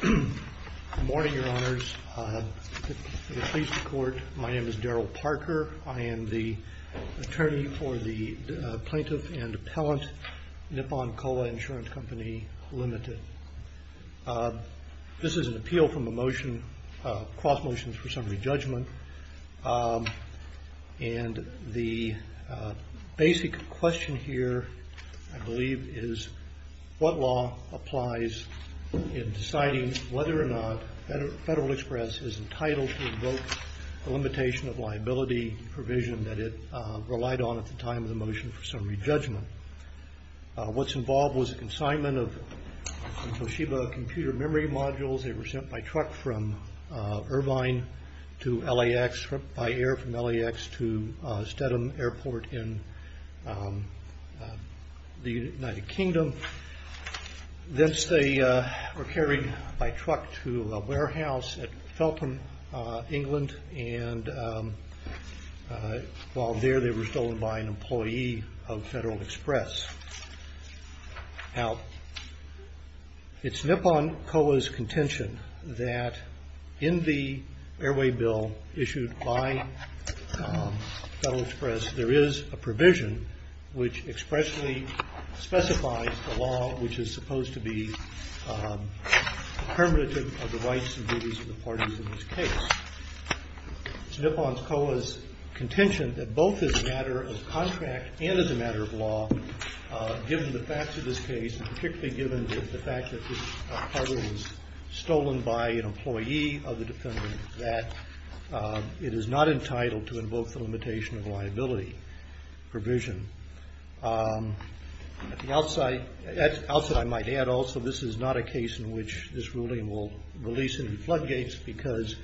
Good morning, Your Honors. My name is Daryl Parker. I am the attorney for the Plaintiff and Appellant NIPPONKOA Insurance Company, Ltd. This is an appeal from a motion, a cross motion for summary judgment, and the basic question here, I believe, is what law applies in deciding whether or not Federal Express is entitled to revoke the limitation of liability provision that it relied on at the time of the motion for summary judgment. What's involved was consignment of Toshiba computer memory modules. They were sent by truck from Irvine to LAX by air from LAX to Stedham Airport in the United Kingdom. Thence they were carried by truck to a warehouse at Feltham, England, and while there they were stolen by an employee of Federal Express. Now, it's NIPPONKOA's contention that in the airway bill issued by Federal Express, there is a provision which expressly specifies the law which is supposed to be determinative of the rights and duties of the parties in this case. It's NIPPONKOA's contention as a matter of contract and as a matter of law, given the facts of this case, and particularly given the fact that this cargo was stolen by an employee of the defendant, that it is not entitled to invoke the limitation of liability provision. At the outset, I might add also, this is not a case in which this ruling will release any floodgates because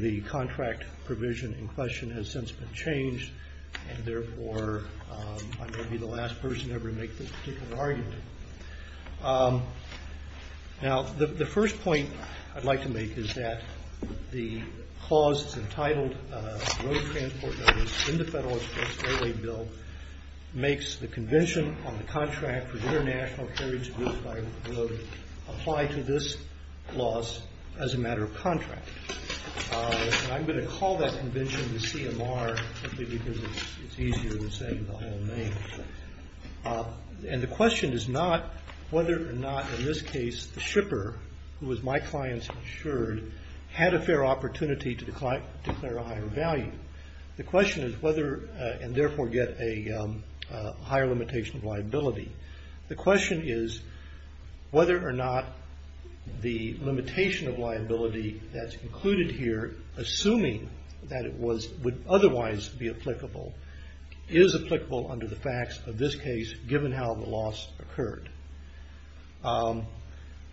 the contract provision in question has since been changed and therefore I'm going to be the last person ever to make this particular argument. Now, the first point I'd like to make is that the clause that's entitled Road Transport Notice in the Federal Express Airway Bill makes the convention on the contract for international ferries used by the road apply to this clause as a matter of contract. I'm going to call that convention the CMR simply because it's easier than saying the whole name. And the question is not whether or not, in this case, the shipper, who was my client's insured, had a fair opportunity to declare a higher value. The question is whether and therefore get a higher limitation of liability. The question is whether or not the limitation of liability that's included here, assuming that it would otherwise be applicable, is applicable under the facts of this case given how the loss occurred.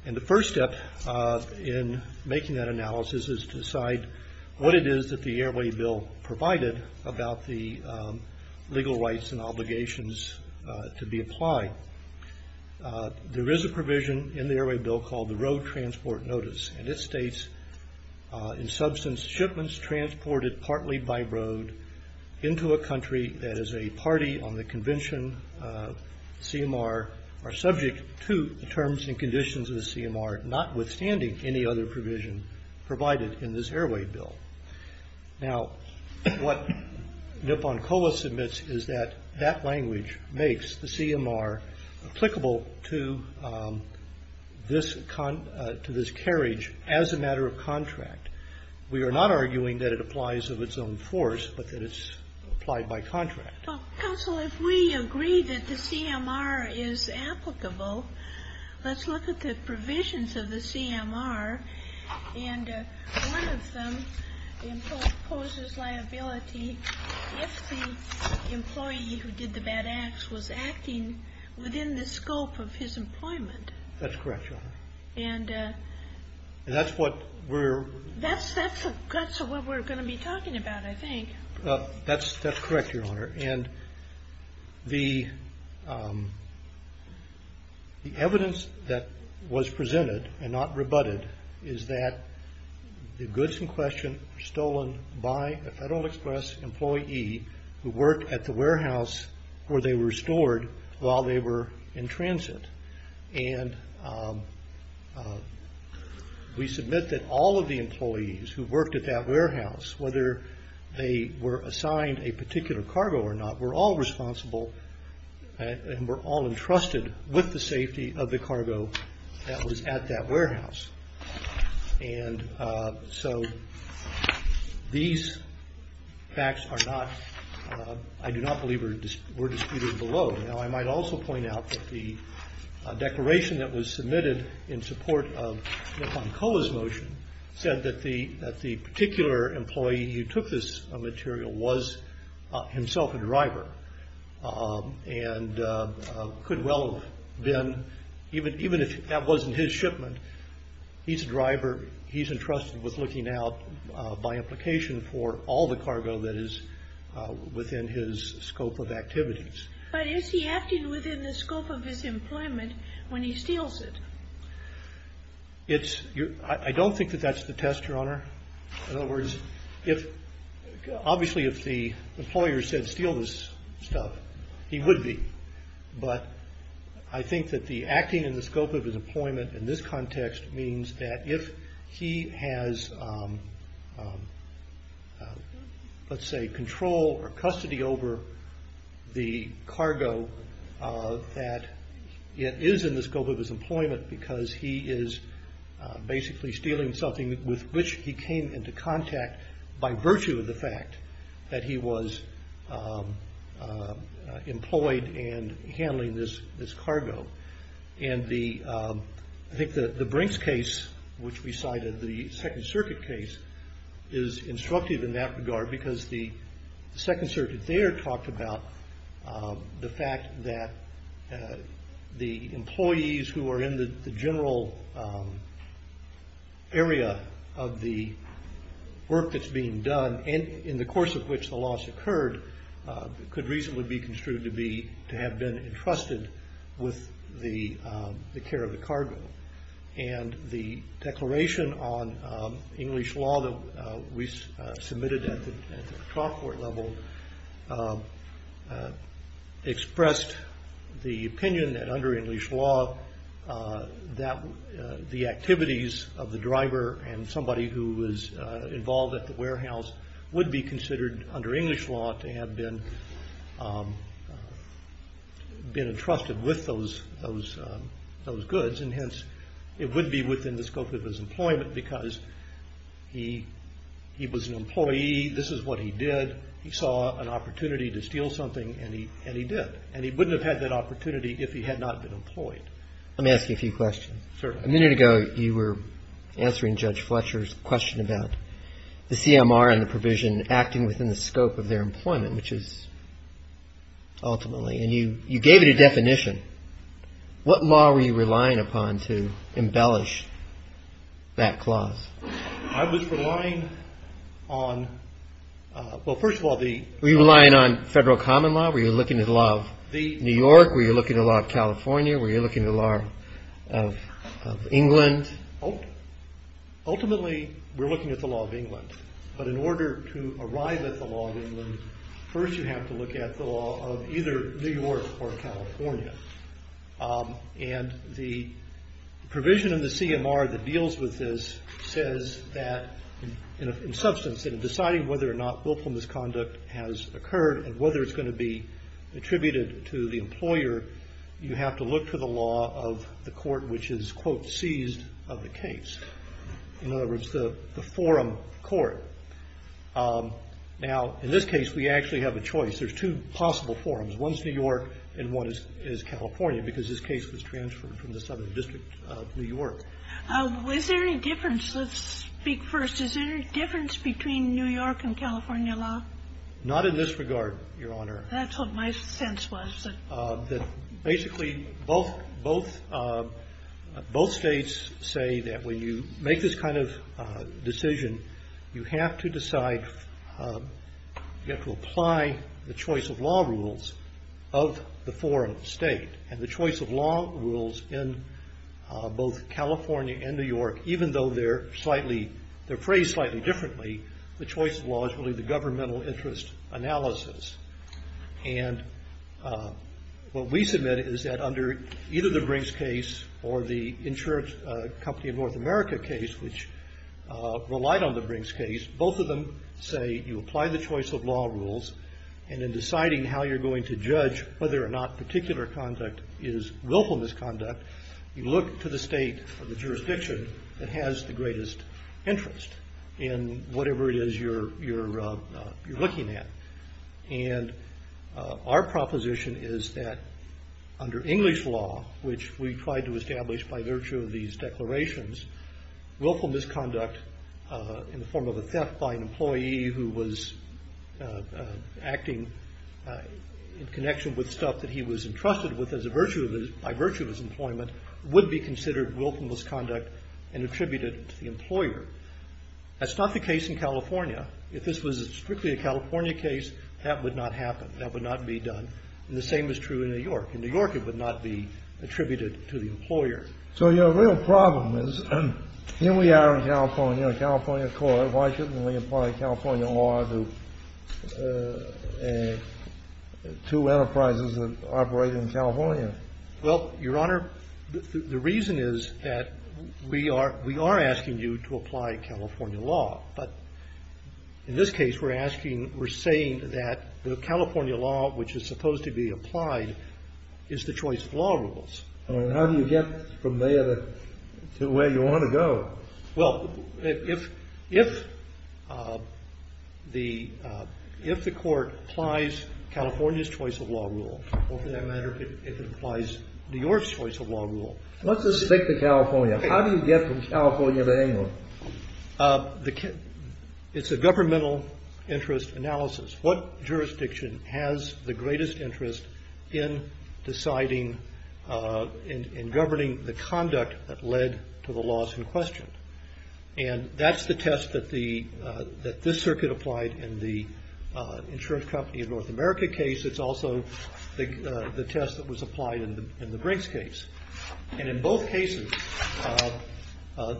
And the first step in making that analysis is to decide what it is that the Airway Bill provided about the legal rights and obligations to be applied. There is a provision in the Airway Bill called the Road Transport Notice, and it states, in substance, shipments transported partly by road into a country that is a party on the convention CMR are subject to the terms and conditions of the CMR, notwithstanding any other provision provided in this Airway Bill. Now, what Nipon-Colas admits is that that language makes the CMR applicable to this carriage as a matter of contract. We are not arguing that it applies of its own force, but that it's applied by contract. Counsel, if we agree that the CMR is applicable, let's look at the provisions of the CMR, and one of them imposes liability if the employee who did the bad acts was acting within the scope of his employment. That's correct, Your Honor. And that's what we're... That's what we're going to be talking about, I think. That's correct, Your Honor. And the evidence that was presented and not rebutted is that the goods in question were stolen by a Federal Express employee who worked at the warehouse where they were stored while they were in transit. And we submit that all of the employees who worked at that warehouse, whether they were assigned a particular cargo or not, were all responsible and were all entrusted with the These facts are not... I do not believe were disputed below. Now, I might also point out that the declaration that was submitted in support of Nipon-Colas' motion said that the particular employee who took this material was himself a driver, and could well have been, even if that wasn't his shipment, he's a driver, he's entrusted with looking out by implication for all the cargo that is within his scope of activities. But is he acting within the scope of his employment when he steals it? It's... I don't think that that's the test, Your Honor. In other words, if... Obviously, if the employer said steal this stuff, he would be. But I think that the acting in the scope of his employment in this context means that if he has let's say control or custody over the cargo that it is in the scope of his employment because he is basically stealing something with which he came into contact by virtue of the fact that he was employed and handling this cargo. And the... I think that the Brinks case, which we cited, the Second Circuit case, is instructive in that regard because the Second Circuit there talked about the fact that the employees who are in the general area of the work that's being done and in the course of which the loss occurred could reasonably be construed to be, to have been entrusted with the care of the cargo. And the declaration on English law that we submitted at the trial court level expressed the opinion that under English law that the activities of the driver and somebody who was involved at the warehouse would be considered under English law to have been entrusted with those goods. And hence, it would be within the scope of his employment because he was an employee. This is what he did. He saw an opportunity to steal something and he did. And he wouldn't have had that opportunity if he had not been employed. I'm asking a few questions. A minute ago, you were answering Judge Fletcher's question about the CMR and the provision acting within the scope of their employment, which is ultimately, and you gave it a definition. What law were you relying upon to embellish that clause? I was relying on, well, first of all, the... Were you relying on federal common law? Were you looking at the law of New York? Were you looking at the law of California? Were you looking at the law of England? Ultimately, we're looking at the law of England. But in order to arrive at the law of England, first you have to look at the law of either New York or California. And the provision in the CMR that deals with this says that, in substance, in deciding whether or not willful misconduct has occurred and whether it's going to be attributed to the employer, you have to look to the law of the court which is, quote, seized of the case. In other words, the forum court. Now, in this case, we actually have a choice. There's two possible forums. One's New York and one is California, because this case was transferred from the Southern District of New York. Is there any difference? Let's speak first. Is there any difference between New York and California law? Not in this regard, Your Honor. That's what my sense was. Basically, both states say that when you make this kind of decision, you have to decide, you have to apply the choice of law rules of the foreign state. And the choice of law rules in both California and New York, even though they're phrased slightly differently, the choice of law is really the governmental interest analysis. And what we submit is that under either the Brinks case or the insurance company of North America case, which relied on the Brinks case, both of them say you apply the choice of law rules. And in deciding how you're going to judge whether or not particular conduct is willful misconduct, you look to the state or the jurisdiction that has the greatest interest. And whatever it is you're looking at. And our proposition is that under English law, which we tried to establish by virtue of these declarations, willful misconduct in the form of a theft by an employee who was acting in connection with stuff that he was entrusted with by virtue of his employment would be considered willful misconduct and attributed to the employer. That's not the case in California. If this was strictly a California case, that would not happen. That would not be done. The same is true in New York. In New York, it would not be attributed to the employer. So your real problem is here we are in California, California court. Why shouldn't we apply California law to two enterprises that operate in California? Well, Your Honor, the reason is that we are we are asking you to apply California law. But in this case, we're asking we're saying that the California law, which is supposed to be applied, is the choice of law rules. How do you get from there to where you want to go? Well, if if the if the court applies California's choice of law rule, for that matter, if it applies New York's choice of law rule. Let's just stick to California. How do you get from California to England? It's a governmental interest analysis. What jurisdiction has the greatest interest in deciding and governing the conduct that led to the laws in question? And that's the test that the that this circuit applied in the insurance company in North America case. It's also the test that was applied in the Brinks case. And in both cases,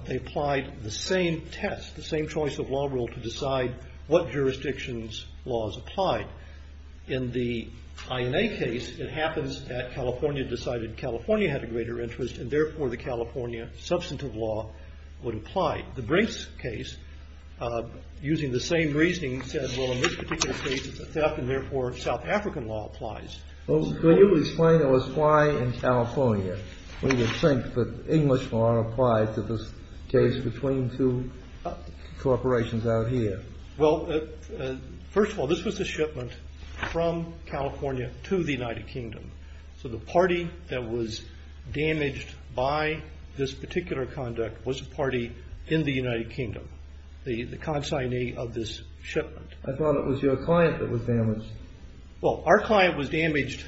they applied the same test, the same choice of law rule to decide what jurisdictions laws applied in the INA case. It happens that California decided California had a greater interest and therefore the California substantive law would apply. The Brinks case, using the same reasoning, said, well, in this particular case, it's a theft and therefore South African law applies. Well, can you explain to us why in California we would think that English law applied to this case between two corporations out here? Well, first of all, this was a shipment from California to the United Kingdom. So the party that was damaged by this particular conduct was a party in the United Kingdom, the consignee of this shipment. I thought it was your client that was damaged. Well, our client was damaged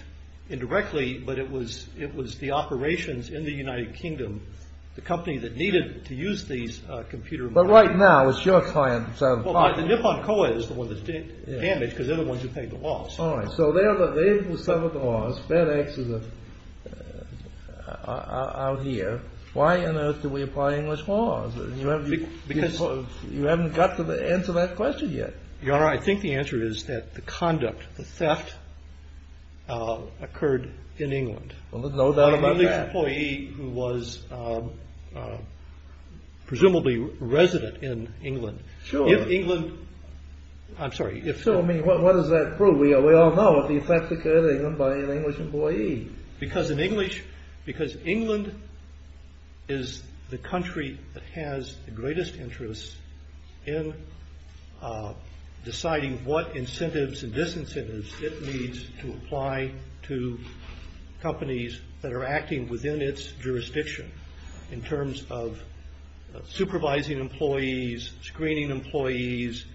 indirectly, but it was it was the operations in the United Kingdom, the company that needed to use these computer. But right now, it's your client. So the Nippon Coed is the one that's damaged because they're the ones who paid the loss. All right. So they are the same with some of the laws. FedEx is out here. Why on earth do we apply English laws? You haven't got to answer that question yet. Your I think the answer is that the conduct, the theft occurred in England. Well, there's no doubt about the employee who was presumably resident in England. Sure. If England. I'm sorry. If so, I mean, what does that prove? We are we all know that the effect occurred by an English employee because in English, because England is the country that has the greatest interest in deciding what incentives and disincentives it needs to apply to companies that are acting within its jurisdiction in terms of supervising employees, screening employees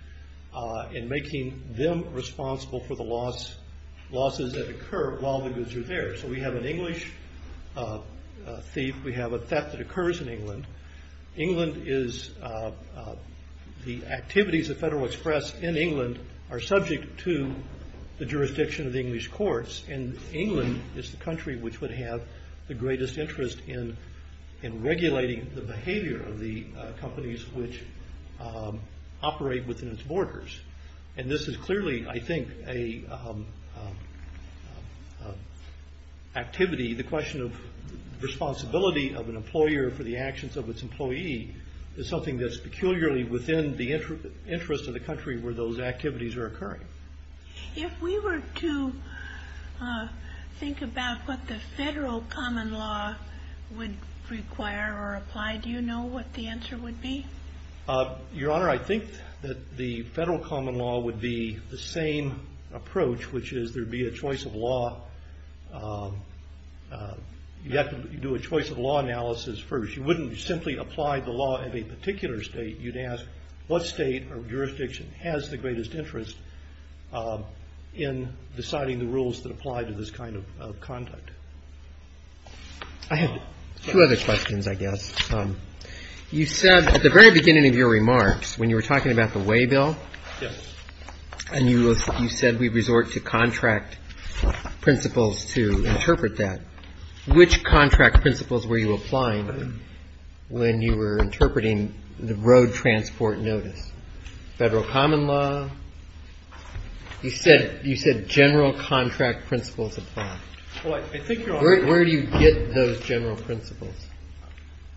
and making them responsible for the loss losses that occur while the goods are there. So we have an English thief. We have a theft that occurs in England. England is the activities of Federal Express in England are subject to the jurisdiction of the English courts. And England is the country which would have the greatest interest in in regulating the behavior of the companies which operate within its borders. And this is clearly, I think, a activity. The question of responsibility of an employer for the actions of its employee is something that's peculiarly within the interest of the country where those activities are occurring. If we were to think about what the federal common law would require or apply, do you know what the answer would be? Your Honor, I think that the federal common law would be the same approach, which is there'd be a choice of law. You have to do a choice of law analysis first. You wouldn't simply apply the law of a particular state. You'd ask what state or jurisdiction has the greatest interest in deciding the rules that apply to this kind of conduct. I have two other questions, I guess. You said at the very beginning of your remarks when you were talking about the way bill and you said we resort to contract principles to interpret that, which contract principles were you applying when you were interpreting the road transport notice? Federal common law? You said general contract principles apply. Where do you get those general principles?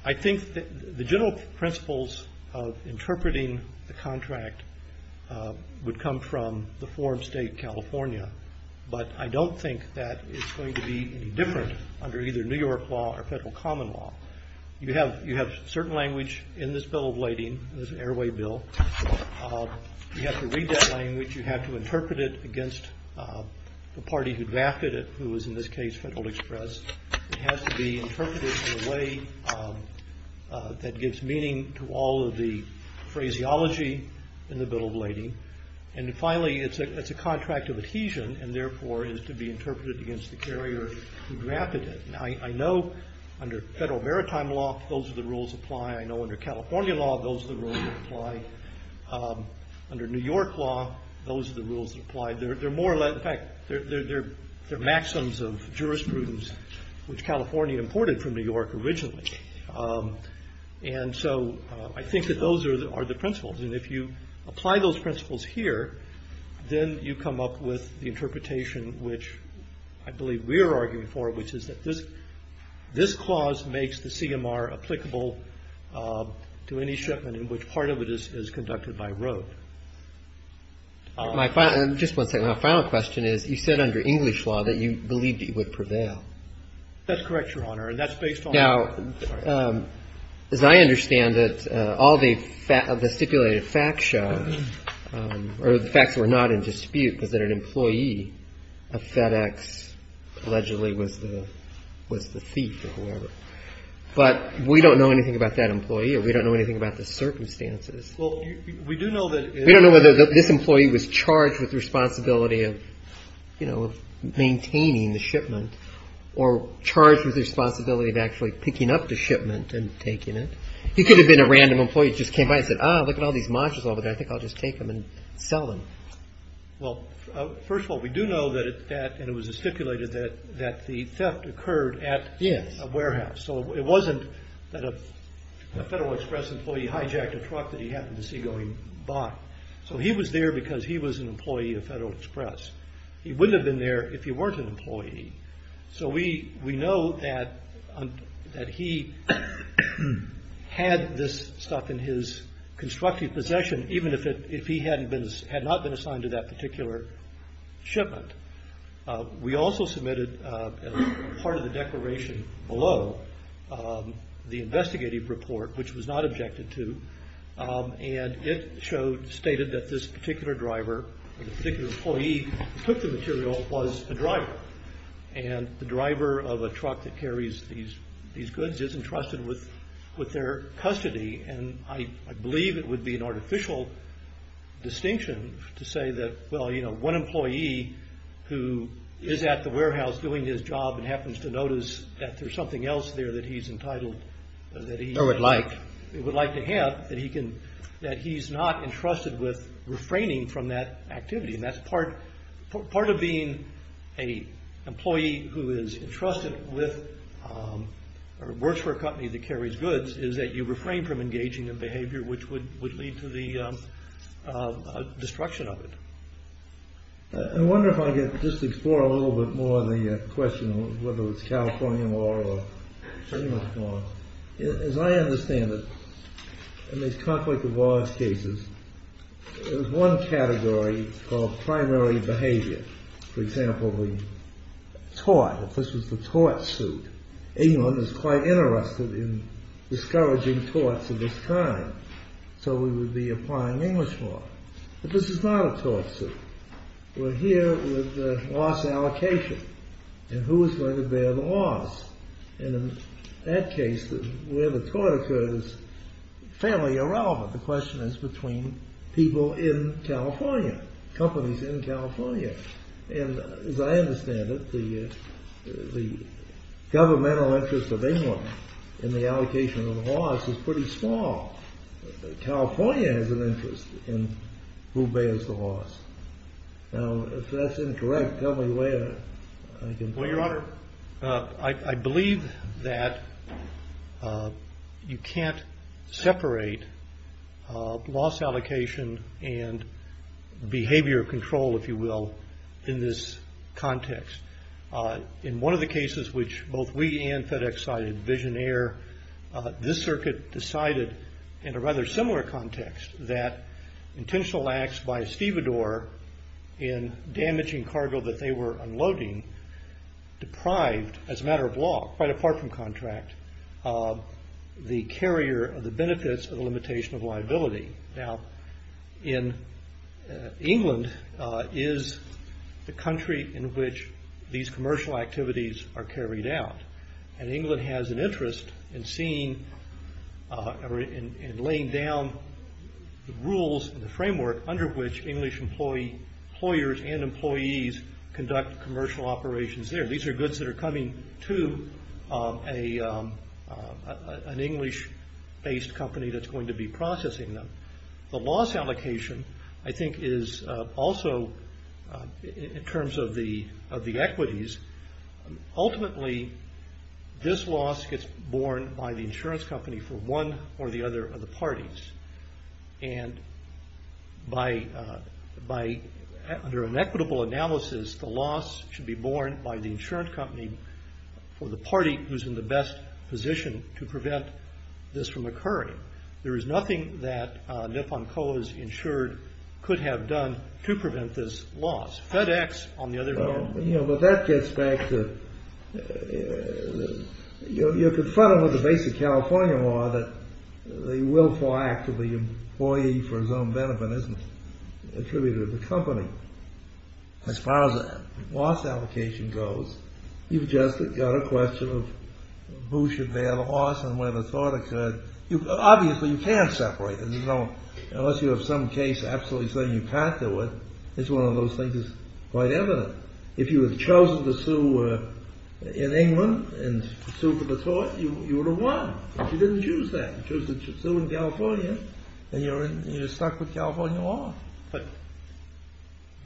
I think the general principles of interpreting the contract would come from the form state California, but I don't think that it's going to be any different under either New York law or federal common law. You have certain language in this bill of lading, this airway bill. You have to read that language. You have to interpret it against the party who drafted it, who is in this case Federal Express. It has to be interpreted in a way that gives meaning to all of the phraseology in the bill of lading. And finally, it's a contract of adhesion and therefore is to be interpreted against the carrier who drafted it. I know under federal maritime law, those are the rules that apply. I know under California law, those are the rules that apply. Under New York law, those are the rules that apply. In fact, they're maxims of jurisprudence which California imported from New York originally. And so I think that those are the principles. And if you apply those principles here, then you come up with the interpretation which I believe we're arguing for, which is that this clause makes the CMR applicable to any shipment in which part of it is conducted by road. My final, just one second, my final question is, you said under English law that you believed it would prevail. That's correct, Your Honor, and that's based on. Now, as I understand it, all the stipulated facts show, or the facts were not in dispute, was that an employee of FedEx allegedly was the thief or whoever. But we don't know anything about that employee or we don't know anything about the circumstances. Well, we do know that. We don't know whether this employee was charged with responsibility of, you know, maintaining the shipment or charged with the responsibility of actually picking up the shipment and taking it. He could have been a random employee just came by and said, ah, look at all these monsters over there. I think I'll just take them and sell them. Well, first of all, we do know that it was stipulated that the theft occurred at a warehouse. So it wasn't that a Federal Express employee hijacked a truck that he happened to see going by. So he was there because he was an employee of Federal Express. He wouldn't have been there if he weren't an employee. So we know that he had this stuff in his constructive possession, even if he had not been assigned to that particular shipment. We also submitted part of the declaration below the investigative report, which was not objected to. And it showed, stated that this particular driver, the particular employee who took the material was a driver. And the driver of a truck that carries these goods isn't trusted with their custody. And I believe it would be an artificial distinction to say that, well, you know, one employee who is at the warehouse doing his job and happens to notice that there's something else there that he's entitled, that he would like to have, that he's not entrusted with refraining from that activity. And that's part of being an employee who is entrusted with or works for a company that carries goods, is that you refrain from engaging in behavior which would lead to the destruction of it. I wonder if I could just explore a little bit more on the question of whether it's California law or English law. As I understand it, in these conflict of wars cases, there's one category called primary behavior. For example, the tort, if this was the tort suit. England is quite interested in discouraging torts of this kind. So we would be applying English law. But this is not a tort suit. We're here with the loss allocation. And who is going to bear the loss? And in that case, where the tort occurs is fairly irrelevant. The question is between people in California, companies in California. And as I understand it, the governmental interest of England in the allocation of the loss is pretty small. California has an interest in who bears the loss. Now, if that's incorrect, tell me where I can find it. Well, Your Honor, I believe that you can't separate loss allocation and behavior control, if you will, in this context. In one of the cases which both we and FedEx cited, Visionaire, this circuit decided in a rather similar context that intentional acts by Estivador in damaging cargo that they were unloading deprived, as a matter of law, quite apart from contract, the carrier of the benefits of the limitation of liability. Now, England is the country in which these commercial activities are carried out. And England has an interest in laying down the rules and the framework under which English employers and employees conduct commercial operations there. These are goods that are coming to an English-based company that's going to be processing them. The loss allocation, I think, is also, in terms of the equities, ultimately this loss gets borne by the insurance company for one or the other of the parties. And under an equitable analysis, the loss should be borne by the insurance company for the party who's in the best position to prevent this from occurring. There is nothing that Nippon Co. has insured could have done to prevent this loss. FedEx, on the other hand... You know, but that gets back to... You're confronted with the basic California law that the willful act of the employee for his own benefit isn't attributed to the company. As far as the loss allocation goes, you've just got a question of who should bear the loss and where the thought occurred. Obviously, you can't separate them. Unless you have some case absolutely saying you can't do it, it's one of those things that's quite evident. If you had chosen to sue in England and sued for the tort, you would have won. If you didn't choose that, choose to sue in California, then you're stuck with California law. But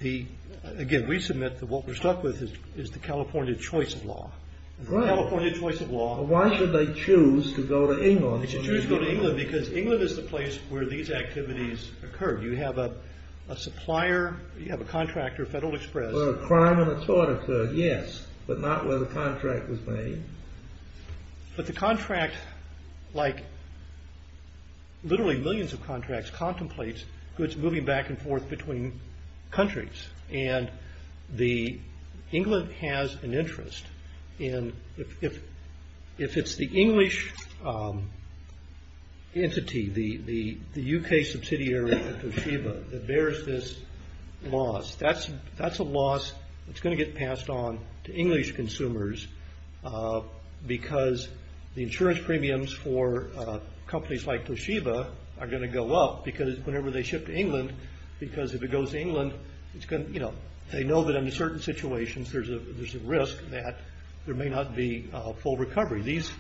again, we submit that what we're stuck with is the California choice of law. The California choice of law... Why should they choose to go to England? They should choose to go to England because England is the place where these activities occur. You have a supplier, you have a contractor, Federal Express... So a crime and a tort occurred, yes, but not where the contract was made. But the contract, like literally millions of contracts, contemplates goods moving back and forth between countries. And England has an interest. And if it's the English entity, the UK subsidiary of Toshiba that bears this loss, that's a loss that's going to get passed on to English consumers because the insurance premiums for companies like Toshiba are going to go up because whenever they ship to England... Because if it goes to England, they know that in certain situations, there's a risk that there may not be a full recovery. These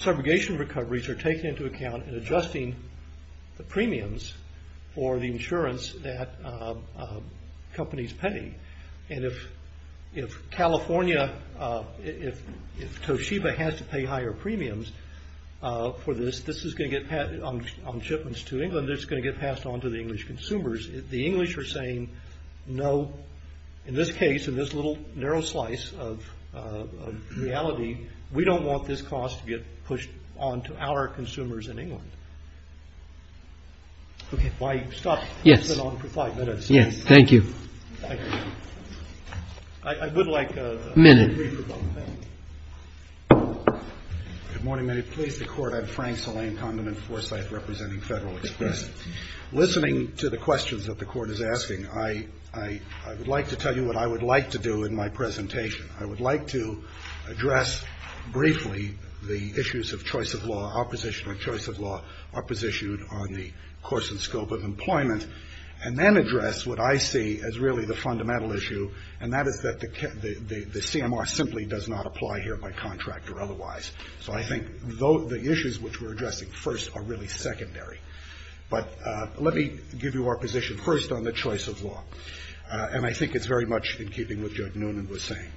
subrogation recoveries are taken into account in adjusting the premiums for the insurance that companies pay. And if California, if Toshiba has to pay higher premiums for this, this is going to get on shipments to England, this is going to get passed on to the English consumers. The English are saying, no, in this case, in this little narrow slice of reality, we don't want this cost to get pushed on to our consumers in England. Okay. Why stop? Yes. You've been on for five minutes. Yes. Thank you. I would like a... Minute. Good morning. May it please the Court. I'm Frank Salame, condiment foresight representing Federal Express. Listening to the questions that the Court is asking, I would like to tell you what I would like to do in my presentation. I would like to address briefly the issues of choice of law, opposition of choice of law, opposition on the course and scope of employment, and then address what I see as really the fundamental issue, and that is that the CMR simply does not apply here by contract or otherwise. So I think the issues which we're addressing first are really secondary. But let me give you our position first on the choice of law. And I think it's very much in keeping with what Judge Noonan was saying.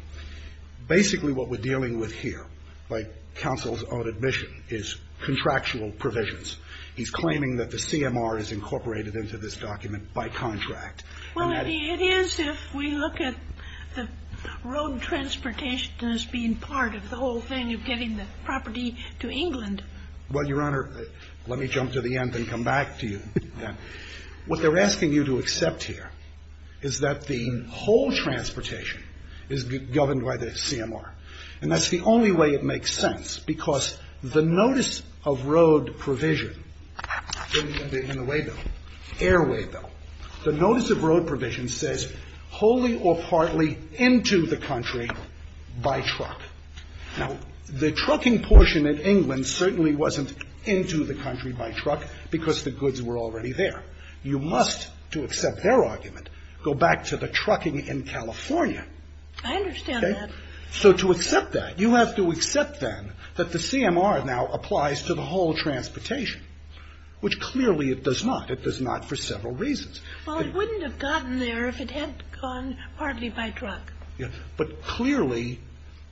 Basically, what we're dealing with here, by counsel's own admission, is contractual provisions. He's claiming that the CMR is incorporated into this document by contract. Well, Eddie, it is if we look at the road transportation as being part of the whole thing of getting the property to England. Well, Your Honor, let me jump to the end and come back to you. What they're asking you to accept here is that the whole transportation is governed by the CMR. And that's the only way it makes sense, because the notice of road provision in the way bill, airway bill, the notice of road provision says wholly or partly into the country by truck. Now, the trucking portion in England certainly wasn't into the country by truck because the goods were already there. You must, to accept their argument, go back to the trucking in California I understand that. So to accept that, you have to accept then that the CMR now applies to the whole transportation, which clearly it does not. It does not for several reasons. Well, it wouldn't have gotten there if it had gone partly by truck. Yeah. But clearly,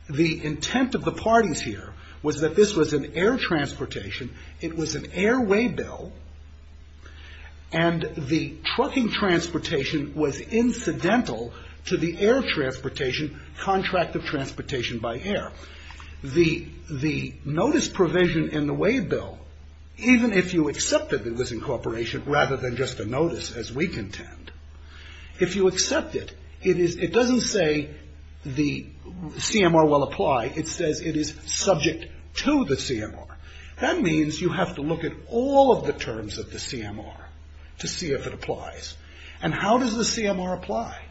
the intent of the parties here was that this was an air transportation. It was an airway bill. And the trucking transportation was incidental to the air transportation contract of transportation by air. The notice provision in the way bill, even if you accepted it was incorporation rather than just a notice as we contend, if you accept it, it doesn't say the CMR will apply. It says it is subject to the CMR. That means you have to look at all of the terms of the CMR to see if it applies. And how does the CMR apply?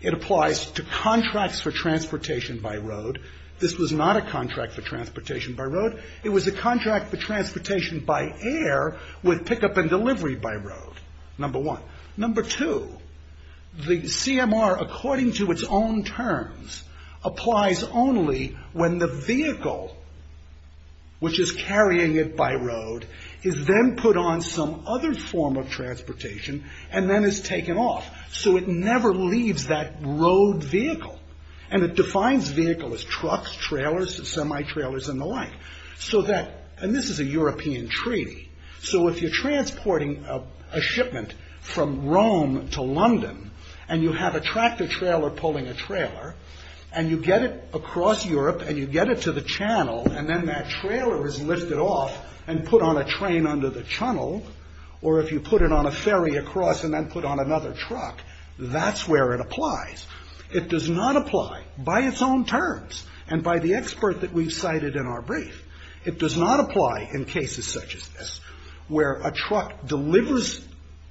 It applies to contracts for transportation by road. This was not a contract for transportation by road. It was a contract for transportation by air with pickup and delivery by road. Number one. Number two, the CMR, according to its own terms, applies only when the vehicle, which is carrying it by road, is then put on some other form of transportation and then is taken off. So it never leaves that road vehicle. And it defines vehicle as trucks, trailers, semi-trailers, and the like. So that, and this is a European treaty. So if you're transporting a shipment from Rome to London, and you have a tractor trailer pulling a trailer, and you get it across Europe, and you get it to the channel, and then that trailer is lifted off and put on a train under the tunnel, or if you put it on a ferry across and then put on another truck, that's where it applies. It does not apply by its own terms and by the expert that we've cited in our brief. It does not apply in cases such as this, where a truck delivers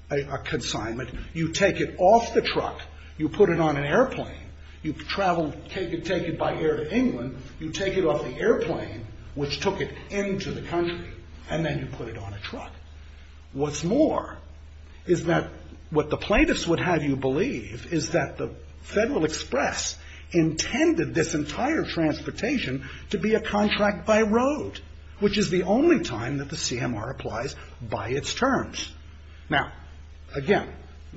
a consignment, you take it off the truck, you put it on an airplane, you travel, take it by air to England, you take it off the airplane, which took it into the country, and then you put it on a truck. What's more is that what the plaintiffs would have you believe is that the Federal Express intended this entire transportation to be a contract by road, which is the only time that the CMR applies by its terms. Now, again,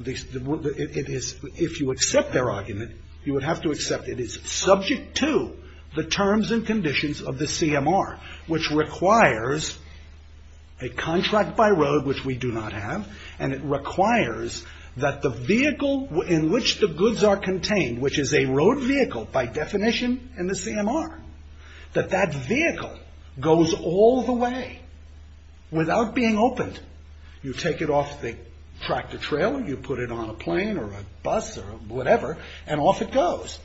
if you accept their argument, you would have to accept it is subject to the terms and conditions of the CMR, which requires a contract by road, which we do not have, and it requires that the vehicle in which the goods are contained, which is a road vehicle by definition in the CMR, that that vehicle goes all the way without being opened. You take it off the tractor trailer, you put it on a plane or a bus or whatever, and off it goes.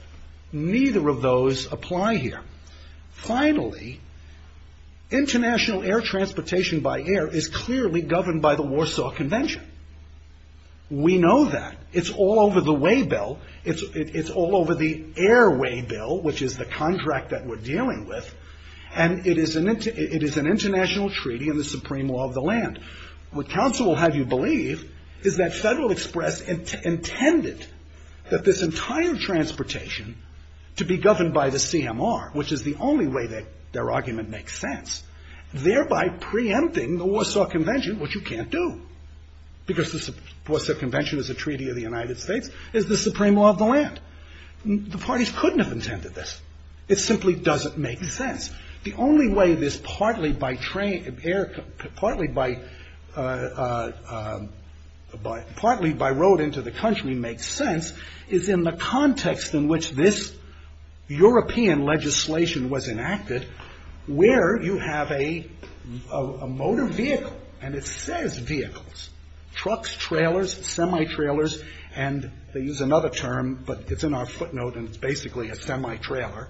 Neither of those apply here. Finally, international air transportation by air is clearly governed by the Warsaw Convention. We know that. It's all over the way bill. It's all over the airway bill, which is the contract that we're dealing with, and it is an international treaty in the supreme law of the land. What counsel will have you believe is that Federal Express intended that this entire transportation to be governed by the CMR, which is the only way that their argument makes sense, thereby preempting the Warsaw Convention, which you can't do, because the Warsaw Convention is a treaty of the United States, is the supreme law of the land. The parties couldn't have intended this. It simply doesn't make sense. The only way this partly by air, partly by road into the country makes sense is in the context in which this European legislation was enacted, where you have a motor vehicle, and it says vehicles, trucks, trailers, semi-trailers, and they use another term, but it's in our footnote, and it's basically a semi-trailer,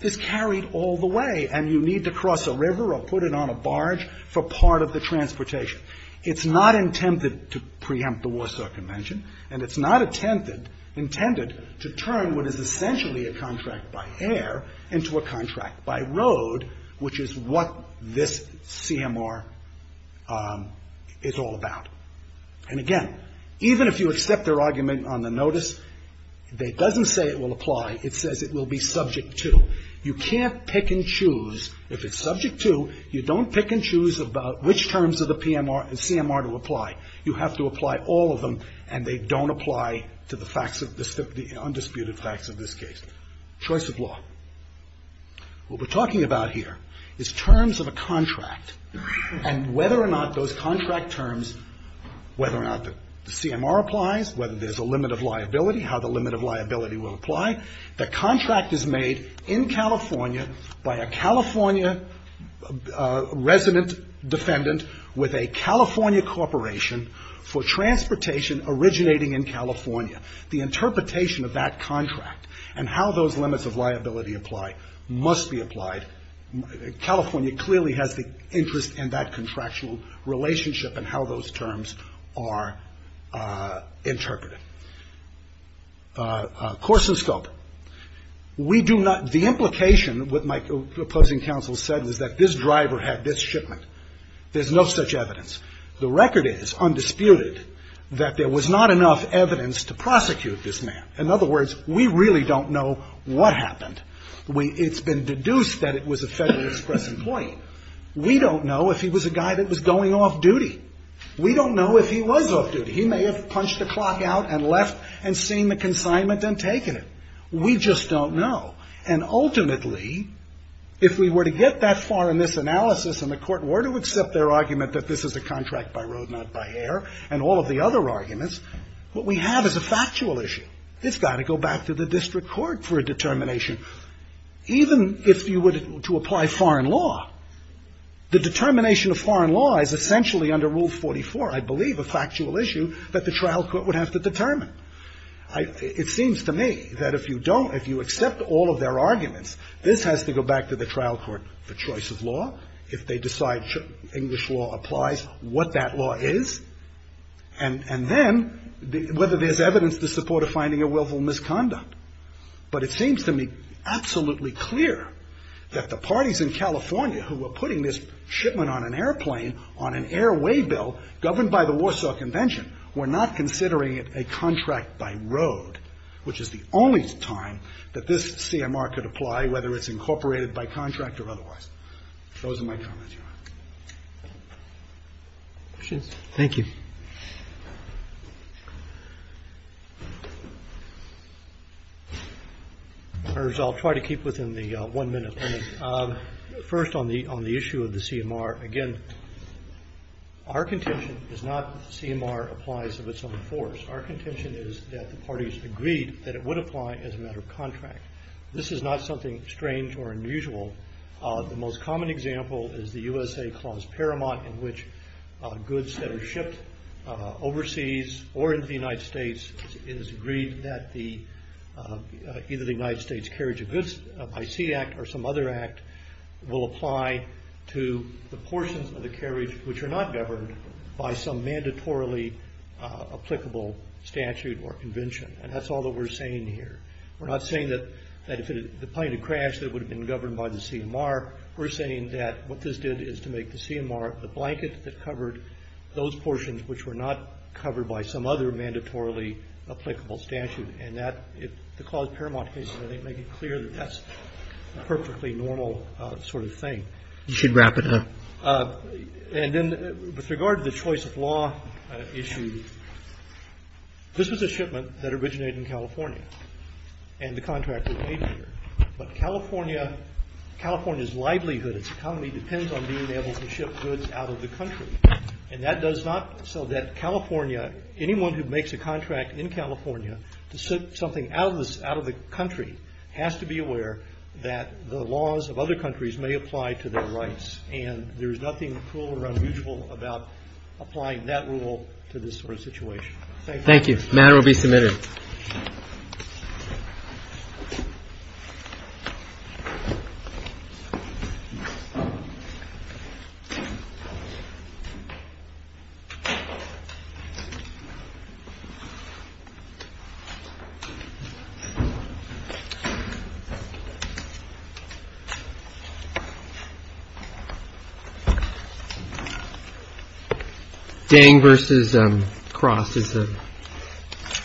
is carried all the way, and you need to cross a river or put it on a barge for part of the transportation. It's not intended to preempt the Warsaw Convention, and it's not intended to turn what is essentially a contract by air into a contract by road, which is what this CMR is all about. And again, even if you accept their argument on the notice, it doesn't say it will apply. It says it will be subject to. You can't pick and choose. If it's subject to, you don't pick and choose about which terms of the CMR to apply. You have to apply all of them, and they don't apply to the facts, the undisputed facts of this case. Choice of law. What we're talking about here is terms of a contract, and whether or not those contract terms, whether or not the CMR applies, whether there's a limit of liability, how the limit of liability will apply, the contract is made in California by a California resident defendant with a California corporation for transportation originating in California. The interpretation of that contract and how those limits of liability apply must be applied. California clearly has the interest in that contractual relationship and how those terms are interpreted. Course and scope. The implication, what my opposing counsel said, was that this driver had this shipment. There's no such evidence. The record is, undisputed, that there was not enough evidence to prosecute this man. In other words, we really don't know what happened. It's been deduced that it was a Federal Express employee. We don't know if he was a guy that was going off-duty. We don't know if he was off-duty. He may have punched the clock out and left and seen the consignment and taken it. We just don't know. And ultimately, if we were to get that far in this analysis and the court were to accept their argument that this is a contract by road, not by air, and all of the other arguments, what we have is a factual issue. It's got to go back to the district court for a determination. Even if you were to apply foreign law, the determination of foreign law is essentially under Rule 44, I believe, a factual issue that the trial court would have to determine. It seems to me that if you don't, if you accept all of their arguments, this has to go back to the trial court for choice of law, if they decide English law applies, what that law is, and then whether there's evidence to support a finding of willful misconduct. But it seems to me absolutely clear that the parties in California who were putting this shipment on an airplane on an airway bill governed by the that this CMR could apply, whether it's incorporated by contract or otherwise. Those are my comments, Your Honor. Thank you. I'll try to keep within the one-minute limit. First, on the issue of the CMR, again, our contention is not that the CMR applies of its own force. Our contention is that the parties agreed that it would apply as a matter of contract. This is not something strange or unusual. The most common example is the USA Clause Paramount, in which goods that are shipped overseas or into the United States, it is agreed that either the United States Carriage of Goods by Sea Act or some other act will apply to the portions of the carriage which are not governed by some mandatorily applicable statute or convention. And that's all that we're saying here. We're not saying that if the plane had crashed, it would have been governed by the CMR. We're saying that what this did is to make the CMR the blanket that covered those portions which were not covered by some other mandatorily applicable statute. And the Clause Paramount case, I think, made it clear that that's a perfectly normal sort of thing. You should wrap it up. And then with regard to the choice of law issue, this was a shipment that originated in California and the contract was made here. But California's livelihood, its economy, depends on being able to ship goods out of the country. And that does not so that California, anyone who makes a contract in California to ship something out of the country has to be aware that the laws of other countries may apply to their rights. And there's nothing cruel or unusual about applying that rule to this sort of situation. Thank you. Matter will be submitted. Dang versus cross. Thank you.